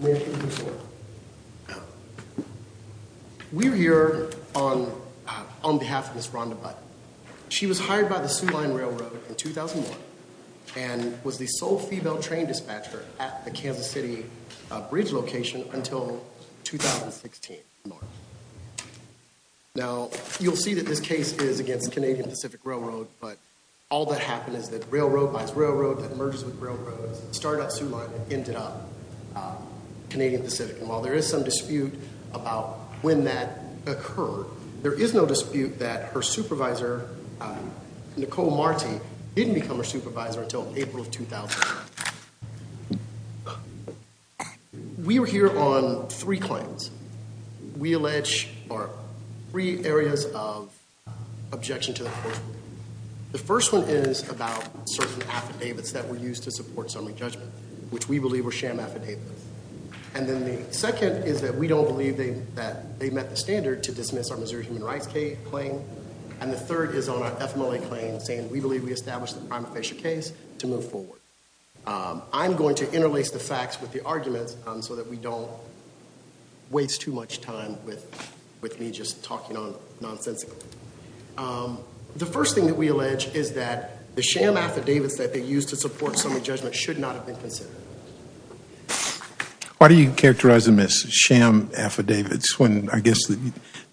We're here on behalf of Ms. Rhonda Button. She was hired by the Sioux Line Railroad in 2001, and was the sole female train dispatcher at the Kansas City bridge location until 2016. Now, you'll see that this case is against the Canadian Pacific Railroad, but all that happened is that railroad lines railroad that merges with railroads started up Sioux Line and ended up Canadian Pacific. And while there is some dispute about when that occurred, there is no dispute that her supervisor, Nicole Marti, didn't become her supervisor until April of 2001. We were here on three claims. We allege three areas of objection to the court ruling. The first one is about certain affidavits that were used to support summary judgment, which we believe were sham affidavits. And then the second is that we don't believe that they met the standard to dismiss our Missouri Human Rights claim. And the third is on our FMLA claim, saying we believe we established the prima facie case to move forward. I'm going to interlace the facts with the arguments so that we don't waste too much time with me just talking nonsensically. The first thing that we allege is that the sham affidavits that they used to support summary judgment should not have been considered. Why do you characterize them as sham affidavits when I guess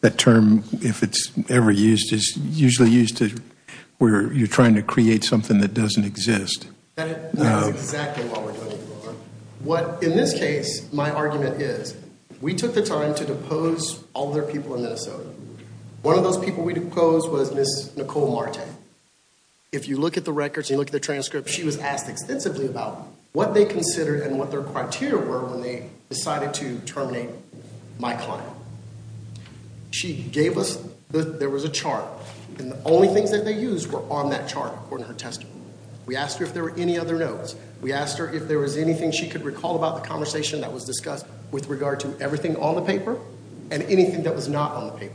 that term, if it's ever used, is usually used where you're trying to create something that doesn't exist? That's exactly what we're going for. What, in this case, my argument is we took the time to depose all their people in Minnesota. One of those people we deposed was Ms. Nicole Marte. If you look at the records and you look at the transcript, she was asked extensively about what they considered and what their criteria were when they decided to terminate my client. She gave us, there was a chart, and the only things that they used were on that chart, according to her testimony. We asked her if there were any other notes. We asked her if there was anything she could recall about the conversation that was discussed with regard to everything on the paper and anything that was not on the paper.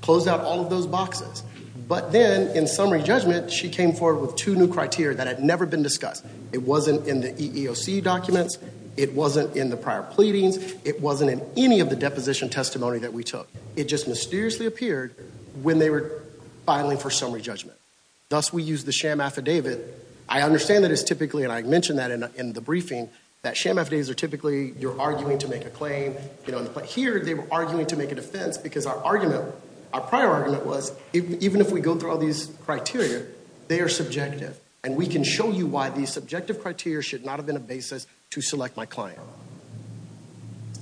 Closed out all of those boxes. But then, in summary judgment, she came forward with two new criteria that had never been discussed. It wasn't in the EEOC documents. It wasn't in the prior pleadings. It wasn't in any of the deposition testimony that we took. It just mysteriously appeared when they were filing for summary judgment. Thus, we used the sham affidavit. I understand that it's typically, and I mentioned that in the briefing, that sham affidavits are typically, you're arguing to make a claim. But here, they were arguing to make a defense because our argument, our prior argument was, even if we go through all these criteria, they are subjective. And we can show you why these subjective criteria should not have been a basis to select my client.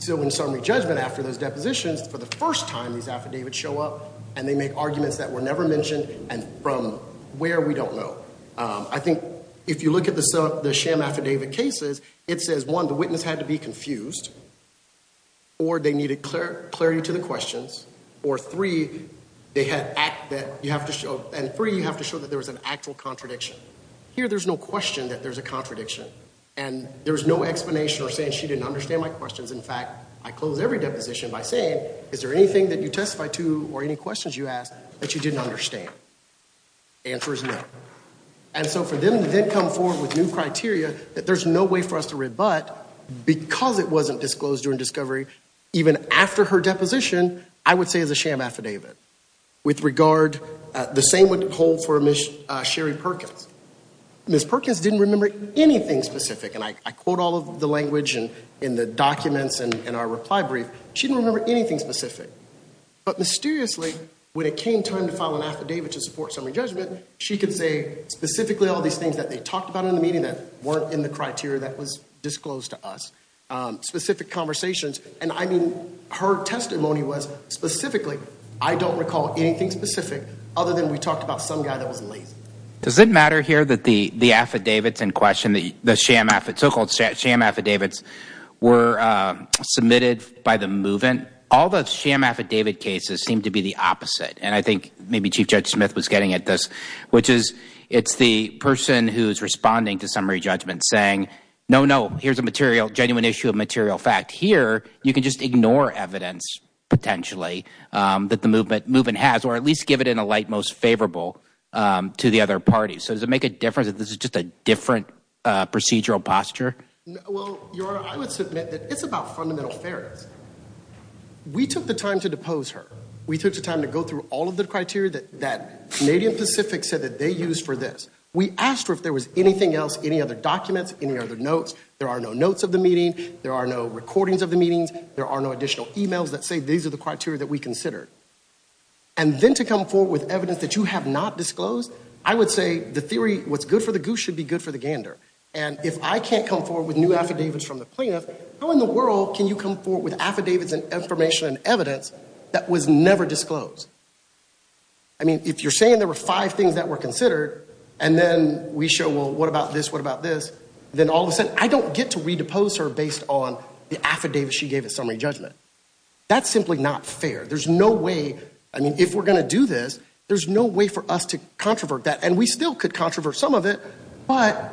So in summary judgment, after those depositions, for the first time, these affidavits show up and they make arguments that were never mentioned and from where, we don't know. I think if you look at the sham affidavit cases, it says, one, the witness had to be confused, or they needed clarity to the questions, or three, they had act that you have to show, and three, you have to show that there was an actual contradiction. Here, there's no question that there's a contradiction. And there's no explanation or saying she didn't understand my questions. In fact, I close every deposition by saying, is there anything that you testified to or any questions you asked that she didn't understand? Answer is no. And so for them to then come forward with new criteria that there's no way for us to rebut because it wasn't disclosed during discovery, even after her deposition, I would say is a sham affidavit. With regard, the same would hold for Ms. Sherry Perkins. Ms. Perkins didn't remember anything specific. And I quote all of the language in the documents and our reply brief. She didn't remember anything specific. But mysteriously, when it came time to file an affidavit to support summary judgment, she could say specifically all these things that they talked about in the meeting that weren't in the criteria that was disclosed to us, specific conversations, and I mean, her testimony was specifically, I don't recall anything specific other than we talked about some guy that was lazy. Does it matter here that the affidavits in question, the sham affidavits, so-called sham affidavits, were submitted by the move-in? And all the sham affidavit cases seem to be the opposite. And I think maybe Chief Judge Smith was getting at this, which is it's the person who's responding to summary judgment saying, no, no, here's a genuine issue of material fact. Here, you can just ignore evidence potentially that the move-in has, or at least give it in a light most favorable to the other parties. So does it make a difference if this is just a different procedural posture? Well, Your Honor, I would submit that it's about fundamental fairness. We took the time to depose her. We took the time to go through all of the criteria that Canadian Pacific said that they used for this. We asked her if there was anything else, any other documents, any other notes. There are no notes of the meeting. There are no recordings of the meetings. There are no additional e-mails that say these are the criteria that we considered. And then to come forward with evidence that you have not disclosed, I would say the theory what's good for the goose should be good for the gander. And if I can't come forward with new affidavits from the plaintiff, how in the world can you come forward with affidavits and information and evidence that was never disclosed? I mean, if you're saying there were five things that were considered, and then we show, well, what about this, what about this, then all of a sudden I don't get to redepose her based on the affidavit she gave as summary judgment. That's simply not fair. There's no way, I mean, if we're going to do this, there's no way for us to controvert that. And we still could controvert some of it, but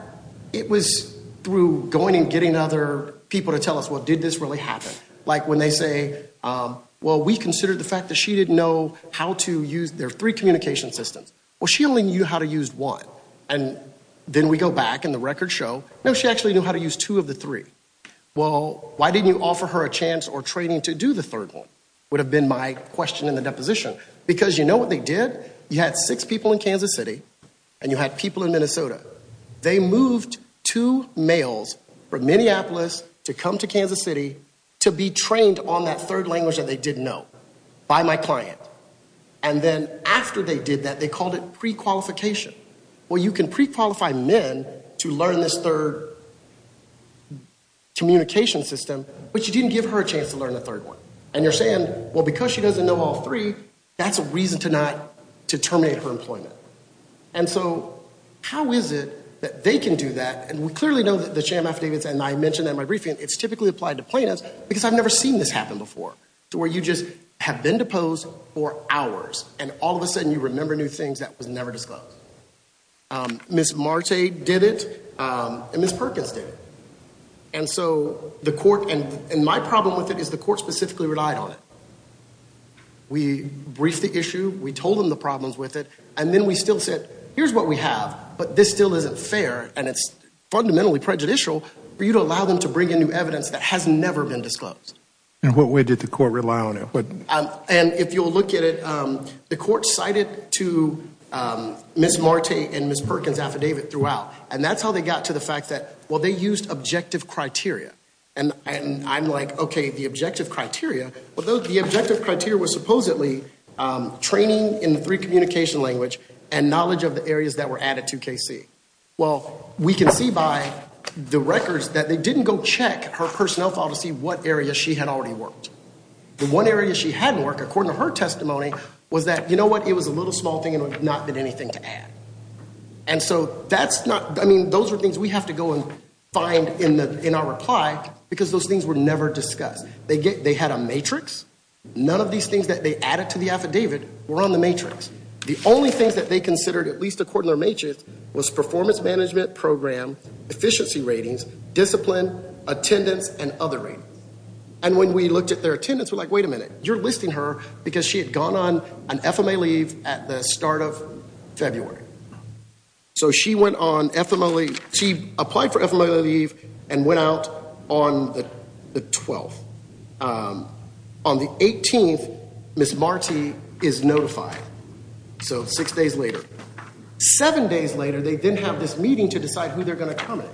it was through going and getting other people to tell us, well, did this really happen? Like when they say, well, we considered the fact that she didn't know how to use their three communication systems. Well, she only knew how to use one. And then we go back and the records show, no, she actually knew how to use two of the three. Well, why didn't you offer her a chance or training to do the third one would have been my question in the deposition. Because you know what they did? You had six people in Kansas City and you had people in Minnesota. They moved two males from Minneapolis to come to Kansas City to be trained on that third language that they didn't know by my client. And then after they did that, they called it prequalification. Well, you can prequalify men to learn this third communication system, but you didn't give her a chance to learn the third one. And you're saying, well, because she doesn't know all three, that's a reason to not to terminate her employment. And so how is it that they can do that? And we clearly know that the sham affidavits and I mentioned in my briefing, it's typically applied to plaintiffs because I've never seen this happen before, to where you just have been deposed for hours and all of a sudden you remember new things that was never disclosed. Ms. Marte did it and Ms. Perkins did it. And so the court and my problem with it is the court specifically relied on it. We briefed the issue. We told them the problems with it. And then we still said, here's what we have, but this still isn't fair. And it's fundamentally prejudicial for you to allow them to bring in new evidence that has never been disclosed. And what way did the court rely on it? And if you'll look at it, the court cited to Ms. Marte and Ms. Perkins' affidavit throughout. And that's how they got to the fact that, well, they used objective criteria. And I'm like, okay, the objective criteria. Well, the objective criteria was supposedly training in three communication language and knowledge of the areas that were added to KC. Well, we can see by the records that they didn't go check her personnel file to see what areas she had already worked. The one area she hadn't worked, according to her testimony, was that, you know what, it was a little small thing and there had not been anything to add. And so that's not, I mean, those are things we have to go and find in our reply because those things were never discussed. They had a matrix. None of these things that they added to the affidavit were on the matrix. The only things that they considered, at least according to their matrix, was performance management program, efficiency ratings, discipline, attendance, and other ratings. And when we looked at their attendance, we're like, wait a minute, you're listing her because she had gone on an FMA leave at the start of February. So she went on FMA leave. She applied for FMA leave and went out on the 12th. On the 18th, Ms. Marti is notified. So six days later. Seven days later, they then have this meeting to decide who they're going to come in.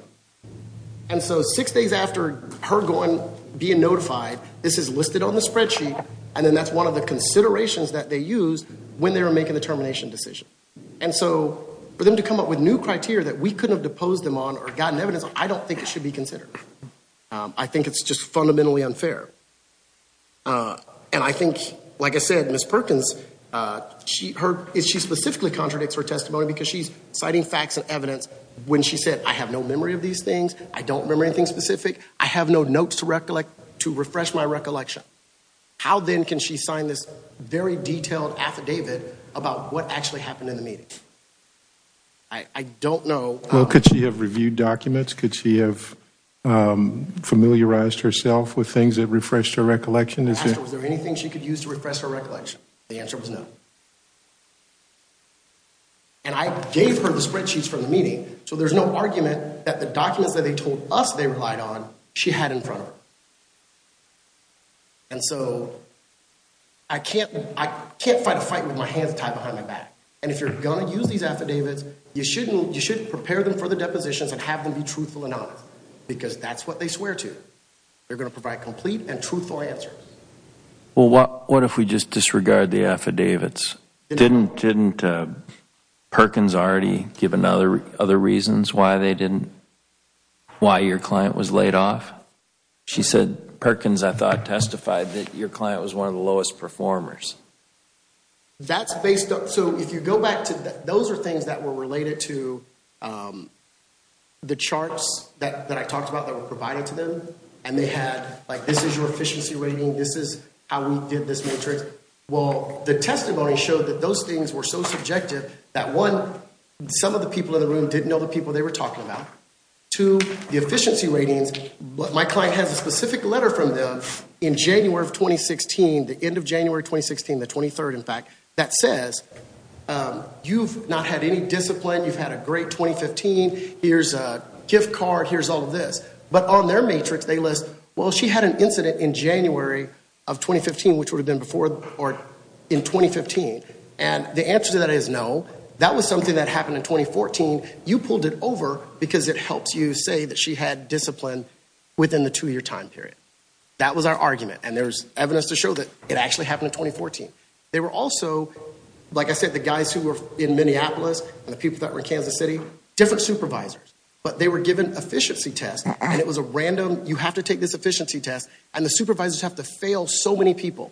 And so six days after her going, being notified, this is listed on the spreadsheet and then that's one of the considerations that they used when they were making the termination decision. And so for them to come up with new criteria that we couldn't have deposed them on or gotten evidence on, I don't think it should be considered. I think it's just fundamentally unfair. And I think, like I said, Ms. Perkins, she specifically contradicts her testimony because she's citing facts and evidence when she said, I have no memory of these things. I don't remember anything specific. I have no notes to refresh my recollection. How then can she sign this very detailed affidavit about what actually happened in the meeting? I don't know. Well, could she have reviewed documents? Could she have familiarized herself with things that refreshed her recollection? Was there anything she could use to refresh her recollection? The answer was no. And I gave her the spreadsheets from the meeting, so there's no argument that the documents that they told us they relied on, she had in front of her. And so I can't fight a fight with my hands tied behind my back. And if you're going to use these affidavits, you shouldn't prepare them for the depositions and have them be truthful and honest because that's what they swear to. They're going to provide complete and truthful answers. Well, what if we just disregard the affidavits? Didn't Perkins already give other reasons why your client was laid off? She said, Perkins, I thought, testified that your client was one of the lowest performers. So if you go back, those are things that were related to the charts that I talked about that were provided to them, and they had, like, this is your efficiency rating, this is how we did this matrix. Well, the testimony showed that those things were so subjective that, one, some of the people in the room didn't know the people they were talking about. Two, the efficiency ratings, my client has a specific letter from them. In January of 2016, the end of January 2016, the 23rd, in fact, that says, you've not had any discipline, you've had a great 2015, here's a gift card, here's all of this. But on their matrix, they list, well, she had an incident in January of 2015, which would have been before or in 2015. And the answer to that is no. That was something that happened in 2014. You pulled it over because it helps you say that she had discipline within the two-year time period. That was our argument, and there's evidence to show that it actually happened in 2014. They were also, like I said, the guys who were in Minneapolis and the people that were in Kansas City, different supervisors. But they were given efficiency tests, and it was a random, you have to take this efficiency test, and the supervisors have to fail so many people.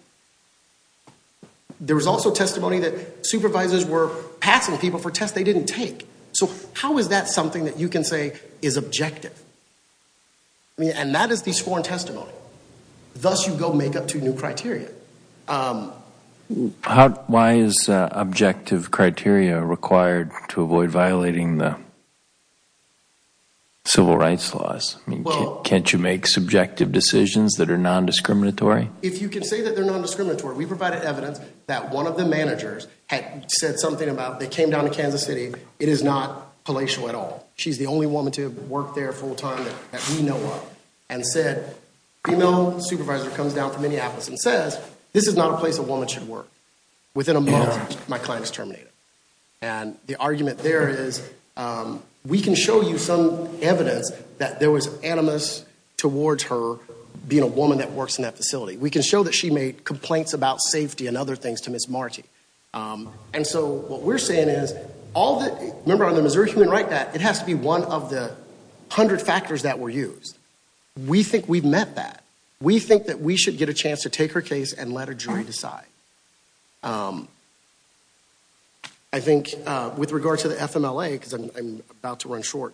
There was also testimony that supervisors were passing people for tests they didn't take. So how is that something that you can say is objective? And that is the sworn testimony. Thus, you go make up two new criteria. Why is objective criteria required to avoid violating the civil rights laws? Can't you make subjective decisions that are nondiscriminatory? If you can say that they're nondiscriminatory, we provided evidence that one of the managers had said something about, they came down to Kansas City, it is not palatial at all. She's the only woman to have worked there full-time that we know of, and said, female supervisor comes down from Minneapolis and says, this is not a place a woman should work. Within a month, my client is terminated. And the argument there is, we can show you some evidence that there was animus towards her being a woman that works in that facility. We can show that she made complaints about safety and other things to Ms. Marti. And so what we're saying is, all the, remember on the Missouri Human Rights Act, it has to be one of the hundred factors that were used. We think we've met that. We think that we should get a chance to take her case and let a jury decide. I think with regard to the FMLA, because I'm about to run short,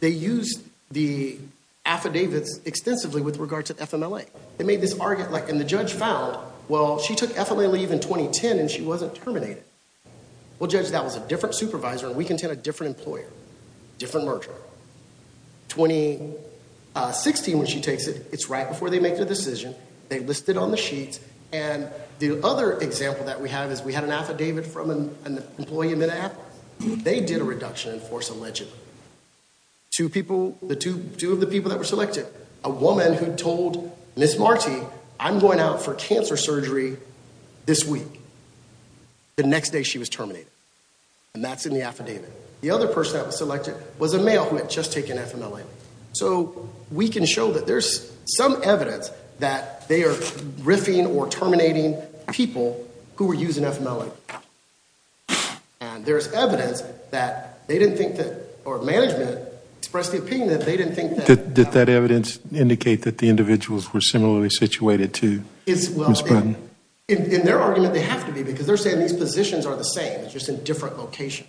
they used the affidavits extensively with regard to FMLA. They made this argument, like, and the judge found, well, she took FMLA leave in 2010, and she wasn't terminated. Well, judge, that was a different supervisor, and we can take a different employer, different merger. 2016, when she takes it, it's right before they make their decision. They list it on the sheets. And the other example that we have is we had an affidavit from an employee in Minneapolis. They did a reduction in force allegedly. Two people, two of the people that were selected, a woman who told Ms. Marti, I'm going out for cancer surgery this week. The next day, she was terminated. And that's in the affidavit. The other person that was selected was a male who had just taken FMLA. So we can show that there's some evidence that they are riffing or terminating people who were using FMLA. And there's evidence that they didn't think that, or management expressed the opinion that they didn't think that. Did that evidence indicate that the individuals were similarly situated to Ms. Burton? In their argument, they have to be because they're saying these positions are the same. It's just in different locations.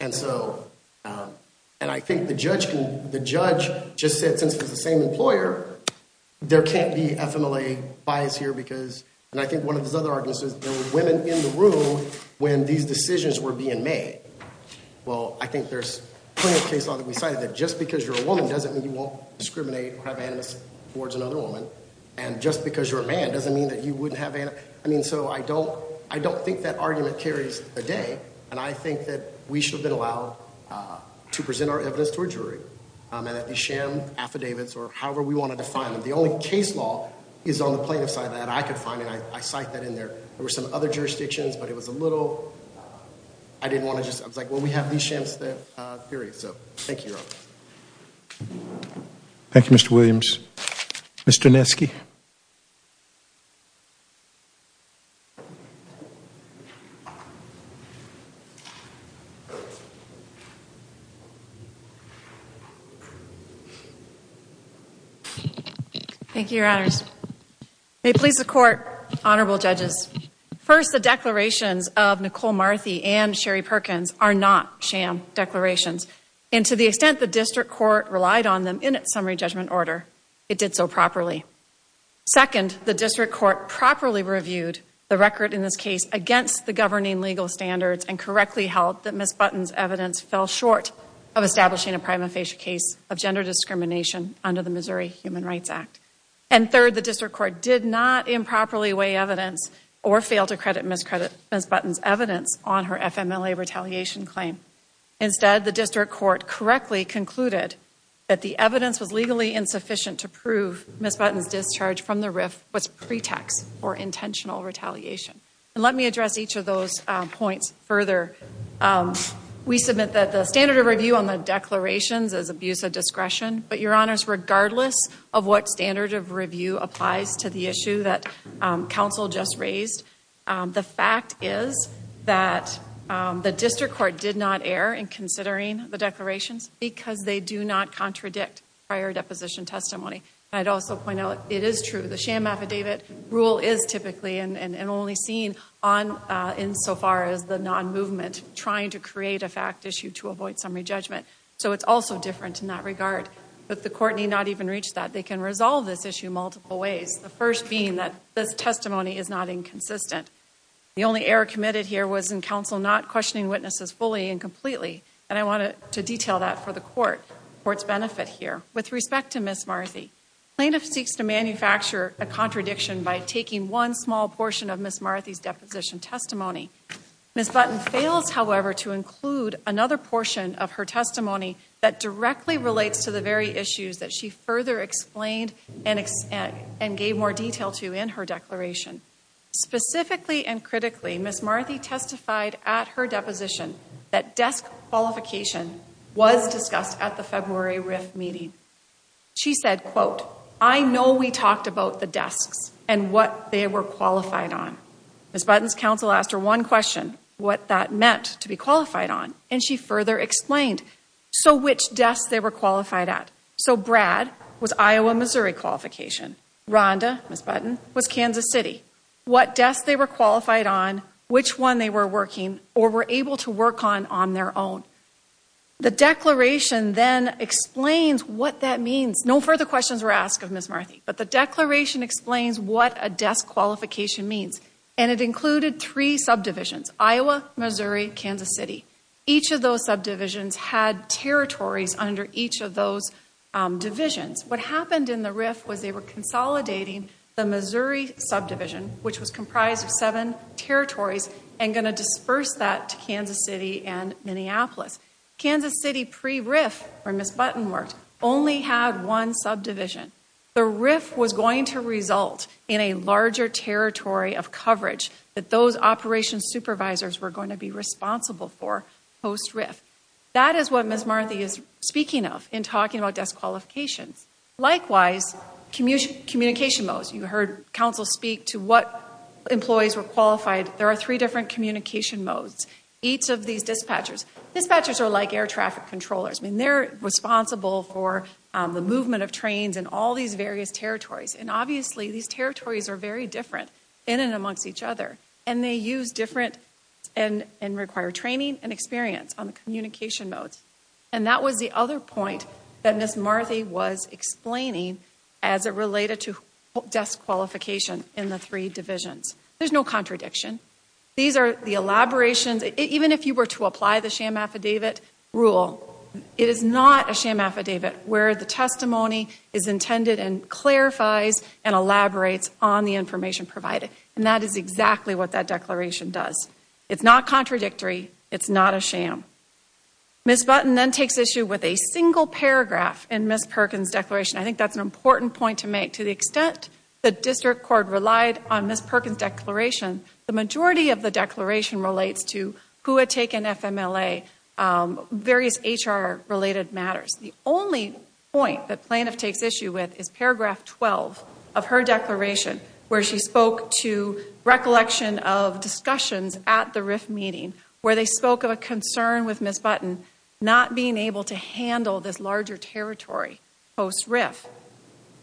And so, and I think the judge just said since it was the same employer, there can't be FMLA bias here because, and I think one of his other arguments is there were women in the room when these decisions were being made. Well, I think there's plenty of case law that we cited that just because you're a woman doesn't mean you won't discriminate or have animus towards another woman. And just because you're a man doesn't mean that you wouldn't have animus. I mean, so I don't think that argument carries a day. And I think that we should have been allowed to present our evidence to a jury. And that they sham affidavits or however we wanted to find them. The only case law is on the plaintiff side that I could find, and I cite that in there. There were some other jurisdictions, but it was a little, I didn't want to just, I was like, well, we have these shams, period. So, thank you, Your Honor. Thank you, Mr. Williams. Mr. Neske. Thank you, Your Honors. May it please the Court, honorable judges. First, the declarations of Nicole Marthy and Sherry Perkins are not sham declarations. And to the extent the district court relied on them in its summary judgment order, it did so properly. Second, the district court properly reviewed the record in this case against the governing legal standards and correctly held that Ms. Button's evidence fell short of establishing a prima facie case of gender discrimination under the Missouri Human Rights Act. And third, the district court did not improperly weigh evidence or fail to credit Ms. Button's evidence on her FMLA retaliation claim. Instead, the district court correctly concluded that the evidence was legally insufficient to prove Ms. Button's discharge from the RIF was pretext for intentional retaliation. And let me address each of those points further. We submit that the standard of review on the declarations is abuse of discretion. But, Your Honors, regardless of what standard of review applies to the issue that counsel just raised, the fact is that the district court did not err in considering the declarations because they do not contradict prior deposition testimony. And I'd also point out it is true. The sham affidavit rule is typically and only seen insofar as the non-movement trying to create a fact issue to avoid summary judgment. So it's also different in that regard. But the court need not even reach that. They can resolve this issue multiple ways. The first being that this testimony is not inconsistent. The only error committed here was in counsel not questioning witnesses fully and completely. And I wanted to detail that for the court's benefit here. With respect to Ms. Marthy, plaintiff seeks to manufacture a contradiction by taking one small portion of Ms. Marthy's deposition testimony. Ms. Button fails, however, to include another portion of her testimony that directly relates to the very issues that she further explained and gave more detail to in her declaration. Specifically and critically, Ms. Marthy testified at her deposition that desk qualification was discussed at the February RIF meeting. She said, quote, I know we talked about the desks and what they were qualified on. Ms. Button's counsel asked her one question. What that meant to be qualified on. And she further explained. So which desk they were qualified at. So Brad was Iowa, Missouri qualification. Rhonda, Ms. Button, was Kansas City. What desk they were qualified on, which one they were working or were able to work on on their own. The declaration then explains what that means. No further questions were asked of Ms. Marthy. But the declaration explains what a desk qualification means. And it included three subdivisions. Iowa, Missouri, Kansas City. Each of those subdivisions had territories under each of those divisions. What happened in the RIF was they were consolidating the Missouri subdivision, which was comprised of seven territories, and going to disperse that to Kansas City and Minneapolis. Kansas City pre-RIF, where Ms. Button worked, only had one subdivision. The RIF was going to result in a larger territory of coverage that those operations supervisors were going to be responsible for post-RIF. That is what Ms. Marthy is speaking of in talking about desk qualifications. Likewise, communication modes. You heard counsel speak to what employees were qualified. There are three different communication modes. Each of these dispatchers. Dispatchers are like air traffic controllers. They're responsible for the movement of trains in all these various territories. And obviously, these territories are very different in and amongst each other. And they use different and require training and experience on the communication modes. And that was the other point that Ms. Marthy was explaining as it related to desk qualification in the three divisions. There's no contradiction. These are the elaborations. Even if you were to apply the sham affidavit rule, it is not a sham affidavit where the testimony is intended and clarifies and elaborates on the information provided. And that is exactly what that declaration does. It's not contradictory. It's not a sham. Ms. Button then takes issue with a single paragraph in Ms. Perkins' declaration. I think that's an important point to make. To the extent the district court relied on Ms. Perkins' declaration, the majority of the declaration relates to who had taken FMLA, various HR-related matters. The only point that plaintiff takes issue with is paragraph 12 of her declaration where she spoke to recollection of discussions at the RIF meeting where they spoke of a concern with Ms. Button not being able to handle this larger territory post-RIF.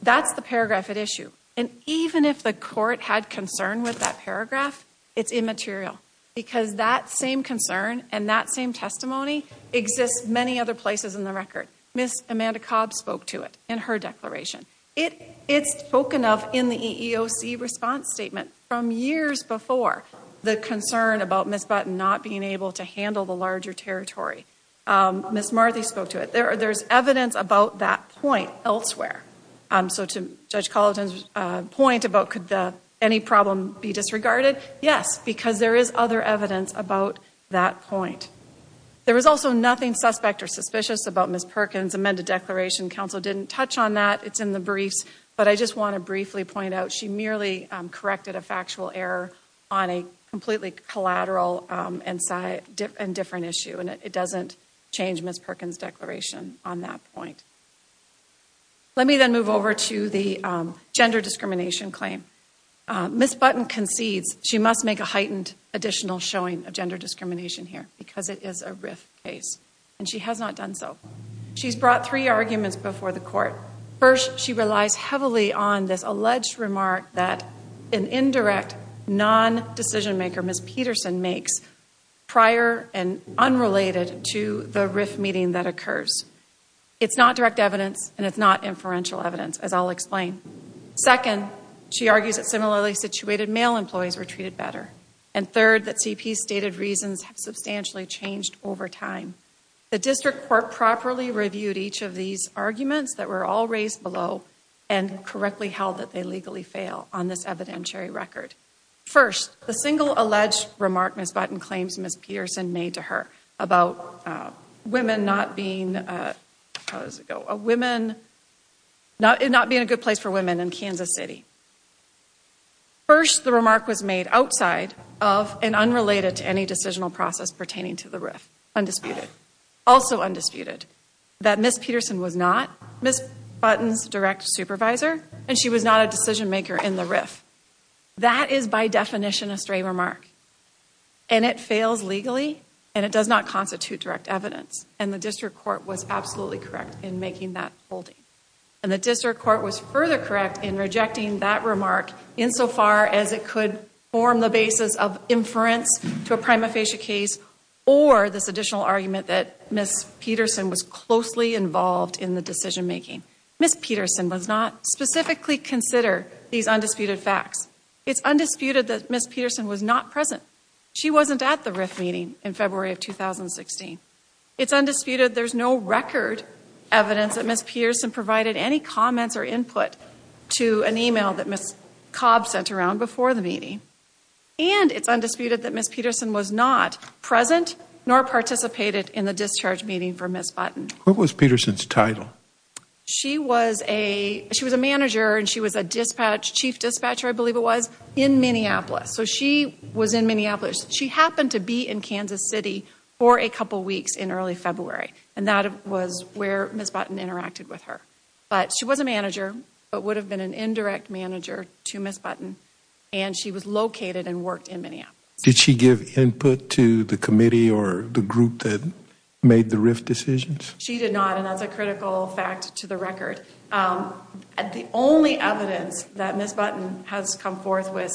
That's the paragraph at issue. And even if the court had concern with that paragraph, it's immaterial. Because that same concern and that same testimony exists many other places in the record. Ms. Amanda Cobb spoke to it in her declaration. It's spoken of in the EEOC response statement from years before the concern about Ms. Button not being able to handle the larger territory. Ms. Marthy spoke to it. There's evidence about that point elsewhere. So to Judge Colleton's point about could any problem be disregarded, yes, because there is other evidence about that point. There was also nothing suspect or suspicious about Ms. Perkins' amended declaration. Counsel didn't touch on that. It's in the briefs. But I just want to briefly point out she merely corrected a factual error on a completely collateral and different issue. And it doesn't change Ms. Perkins' declaration on that point. Let me then move over to the gender discrimination claim. Ms. Button concedes she must make a heightened additional showing of gender discrimination here because it is a RIF case. And she has not done so. She's brought three arguments before the court. First, she relies heavily on this alleged remark that an indirect non-decision maker, Ms. Peterson, makes prior and unrelated to the RIF meeting that occurs. It's not direct evidence and it's not inferential evidence, as I'll explain. Second, she argues that similarly situated male employees were treated better. And third, that CP's stated reasons have substantially changed over time. The district court properly reviewed each of these arguments that were all raised below and correctly held that they legally fail on this evidentiary record. First, the single alleged remark Ms. Button claims Ms. Peterson made to her about women not being a good place for women in Kansas City. First, the remark was made outside of and unrelated to any decisional process pertaining to the RIF, undisputed. Also undisputed, that Ms. Peterson was not Ms. Button's direct supervisor and she was not a decision maker in the RIF. That is by definition a stray remark. And it fails legally and it does not constitute direct evidence. And the district court was absolutely correct in making that holding. And the district court was further correct in rejecting that remark insofar as it could form the basis of inference to a prima facie case or this additional argument that Ms. Peterson was closely involved in the decision making. Ms. Peterson does not specifically consider these undisputed facts. It's undisputed that Ms. Peterson was not present. She wasn't at the RIF meeting in February of 2016. It's undisputed there's no record evidence that Ms. Peterson provided any comments or input to an email that Ms. Cobb sent around before the meeting. And it's undisputed that Ms. Peterson was not present nor participated in the discharge meeting for Ms. Button. What was Peterson's title? She was a manager and she was a chief dispatcher, I believe it was, in Minneapolis. So she was in Minneapolis. She happened to be in Kansas City for a couple weeks in early February. And that was where Ms. Button interacted with her. But she was a manager but would have been an indirect manager to Ms. Button. And she was located and worked in Minneapolis. Did she give input to the committee or the group that made the RIF decisions? And that's a critical fact to the record. The only evidence that Ms. Button has come forth with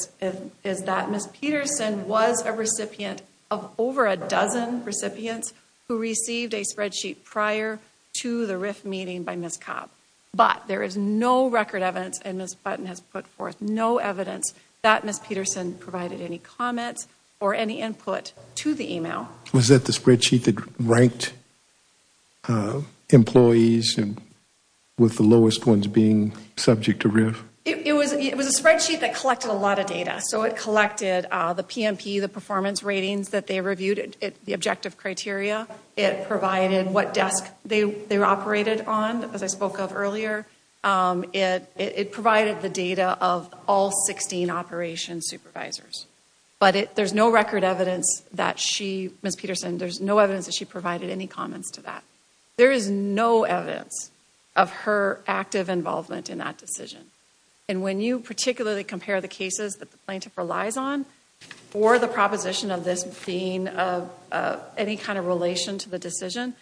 is that Ms. Peterson was a recipient of over a dozen recipients who received a spreadsheet prior to the RIF meeting by Ms. Cobb. But there is no record evidence and Ms. Button has put forth no evidence that Ms. Peterson provided any comments or any input to the email. Was that the spreadsheet that ranked employees with the lowest ones being subject to RIF? It was a spreadsheet that collected a lot of data. So it collected the PMP, the performance ratings that they reviewed, the objective criteria. It provided what desk they operated on, as I spoke of earlier. It provided the data of all 16 operations supervisors. But there's no record evidence that she, Ms. Peterson, there's no evidence that she provided any comments to that. There is no evidence of her active involvement in that decision. And when you particularly compare the cases that the plaintiff relies on for the proposition of this being of any kind of relation to the decision,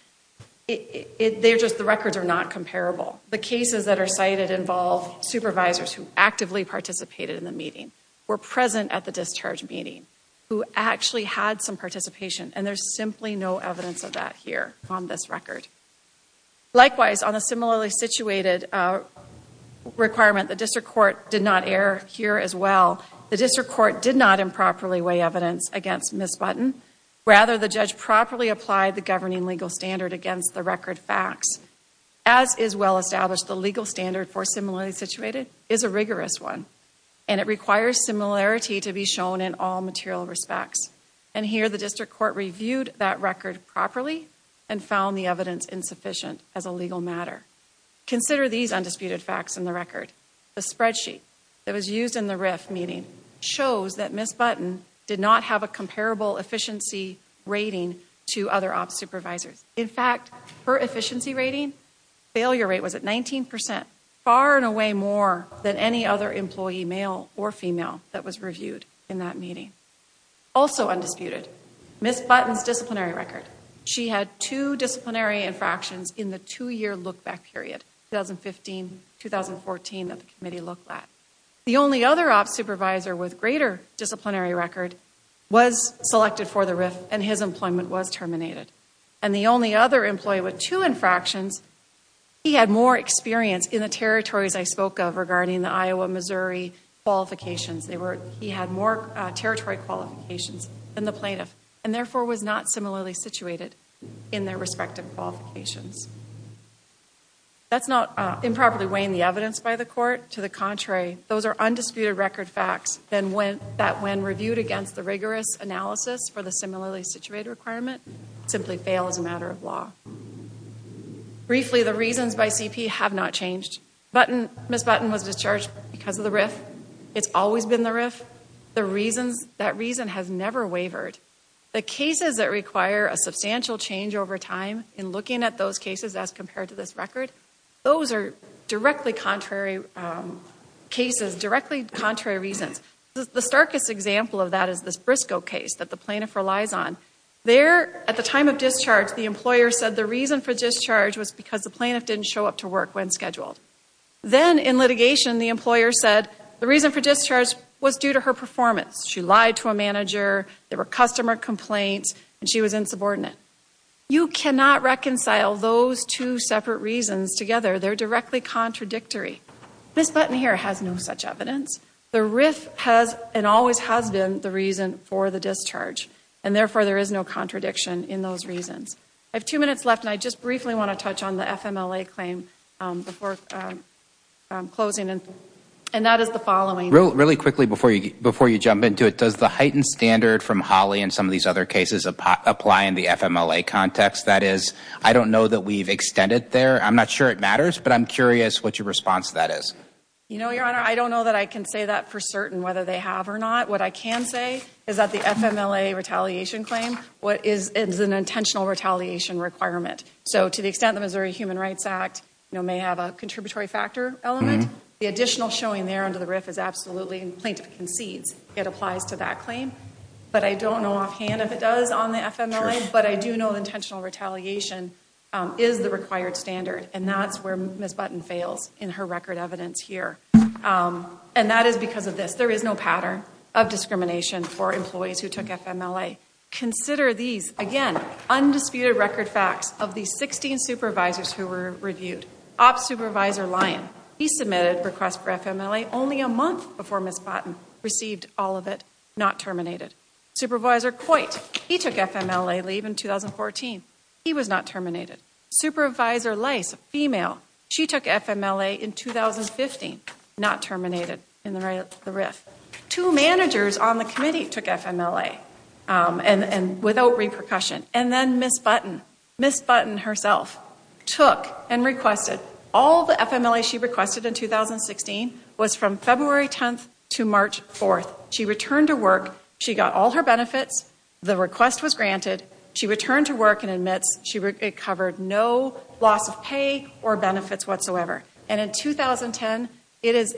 they're just, the records are not comparable. The cases that are cited involve supervisors who actively participated in the meeting, were present at the discharge meeting, who actually had some participation, and there's simply no evidence of that here on this record. Likewise, on a similarly situated requirement, the district court did not err here as well. The district court did not improperly weigh evidence against Ms. Button. Rather, the judge properly applied the governing legal standard against the record facts. As is well established, the legal standard for similarly situated is a rigorous one. And it requires similarity to be shown in all material respects. And here, the district court reviewed that record properly and found the evidence insufficient as a legal matter. Consider these undisputed facts in the record. The spreadsheet that was used in the RIF meeting shows that Ms. Button did not have a comparable efficiency rating to other ops supervisors. In fact, her efficiency rating, failure rate was at 19%, far and away more than any other employee, male or female, that was reviewed in that meeting. Also undisputed, Ms. Button's disciplinary record. She had two disciplinary infractions in the two-year look-back period, 2015-2014, that the committee looked at. The only other ops supervisor with greater disciplinary record was selected for the RIF, and his employment was terminated. And the only other employee with two infractions, he had more experience in the territories I spoke of regarding the Iowa-Missouri qualifications. He had more territory qualifications than the plaintiff, and therefore was not similarly situated in their respective qualifications. That's not improperly weighing the evidence by the court. To the contrary, those are undisputed record facts that when reviewed against the rigorous analysis for the similarly situated requirement, simply fail as a matter of law. Briefly, the reasons by CP have not changed. It's always been the RIF. The reasons, that reason has never wavered. The cases that require a substantial change over time in looking at those cases as compared to this record, those are directly contrary cases, directly contrary reasons. The starkest example of that is this Briscoe case that the plaintiff relies on. There, at the time of discharge, the employer said the reason for discharge was because the plaintiff didn't show up to work when scheduled. Then, in litigation, the employer said the reason for discharge was due to her performance. She lied to a manager, there were customer complaints, and she was insubordinate. You cannot reconcile those two separate reasons together. They're directly contradictory. This button here has no such evidence. The RIF has and always has been the reason for the discharge, and therefore there is no contradiction in those reasons. I have two minutes left, and I just briefly want to touch on the FMLA claim before closing, and that is the following. Really quickly, before you jump into it, does the heightened standard from Holly and some of these other cases apply in the FMLA context? That is, I don't know that we've extended there. I'm not sure it matters, but I'm curious what your response to that is. You know, Your Honor, I don't know that I can say that for certain, whether they have or not. What I can say is that the FMLA retaliation claim is an intentional retaliation requirement. So, to the extent the Missouri Human Rights Act may have a contributory factor element, the additional showing there under the RIF is absolutely, and the plaintiff concedes it applies to that claim. But I don't know offhand if it does on the FMLA, but I do know intentional retaliation is the required standard, and that's where Ms. Button fails in her record evidence here. And that is because of this. There is no pattern of discrimination for employees who took FMLA. Consider these, again, undisputed record facts of the 16 supervisors who were reviewed. Op Supervisor Lyon, he submitted a request for FMLA only a month before Ms. Button received all of it, not terminated. Supervisor Coit, he took FMLA leave in 2014, he was not terminated. Supervisor Lace, a female, she took FMLA in 2015, not terminated in the RIF. Two managers on the committee took FMLA, and without repercussion. And then Ms. Button, Ms. Button herself, took and requested. All the FMLA she requested in 2016 was from February 10th to March 4th. She returned to work, she got all her benefits, the request was granted, she returned to work and admits she recovered no loss of pay or benefits whatsoever. And in 2010, it is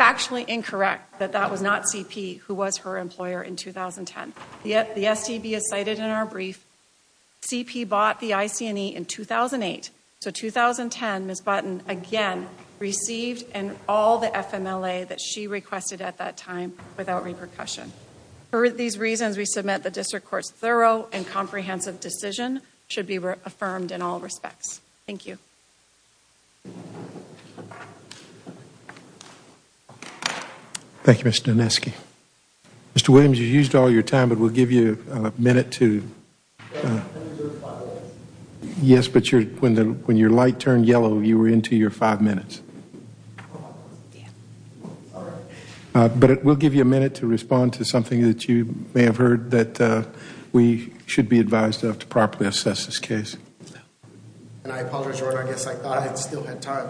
factually incorrect that that was not CP who was her employer in 2010. The STB is cited in our brief. CP bought the IC&E in 2008. So 2010, Ms. Button, again, received all the FMLA that she requested at that time without repercussion. For these reasons, we submit the district court's thorough and comprehensive decision should be affirmed in all respects. Thank you. Thank you, Mr. Doneski. Mr. Williams, you used all your time, but we'll give you a minute to... Yes, but when your light turned yellow, you were into your five minutes. Yeah. All right. But we'll give you a minute to respond to something that you may have heard that we should be advised of to properly assess this case. And I apologize, I guess I thought I still had time.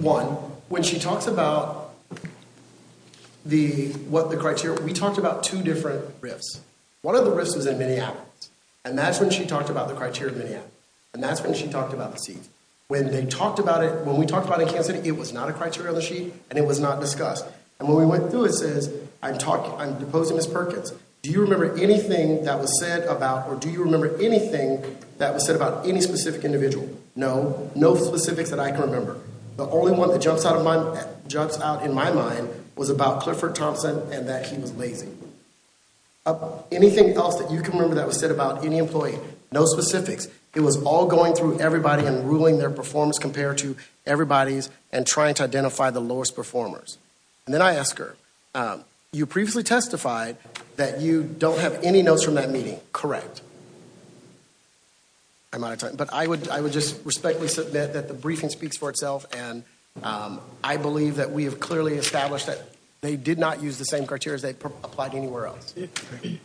One, when she talks about the criteria, we talked about two different RIFs. One of the RIFs was in Minneapolis. And that's when she talked about the criteria in Minneapolis. And that's when she talked about the seat. When they talked about it, when we talked about it in Kansas City, it was not a criteria on the sheet, and it was not discussed. And when we went through it, it says, I'm deposing Ms. Perkins. Do you remember anything that was said about, or do you remember anything that was said about any specific individual? No. No specifics that I can remember. The only one that jumps out in my mind was about Clifford Thompson and that he was lazy. Anything else that you can remember that was said about any employee? No specifics. It was all going through everybody and ruling their performance compared to everybody's and trying to identify the lowest performers. And then I ask her, you previously testified that you don't have any notes from that meeting. Correct. I'm out of time. But I would just respectfully submit that the briefing speaks for itself, and I believe that we have clearly established that they did not use the same criteria as they applied anywhere else. Thank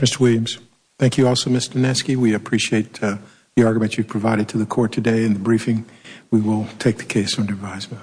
you, Mr. Williams. Thank you also, Ms. Doneski. We appreciate the argument you provided to the court today in the briefing. We will take the case under revised vote.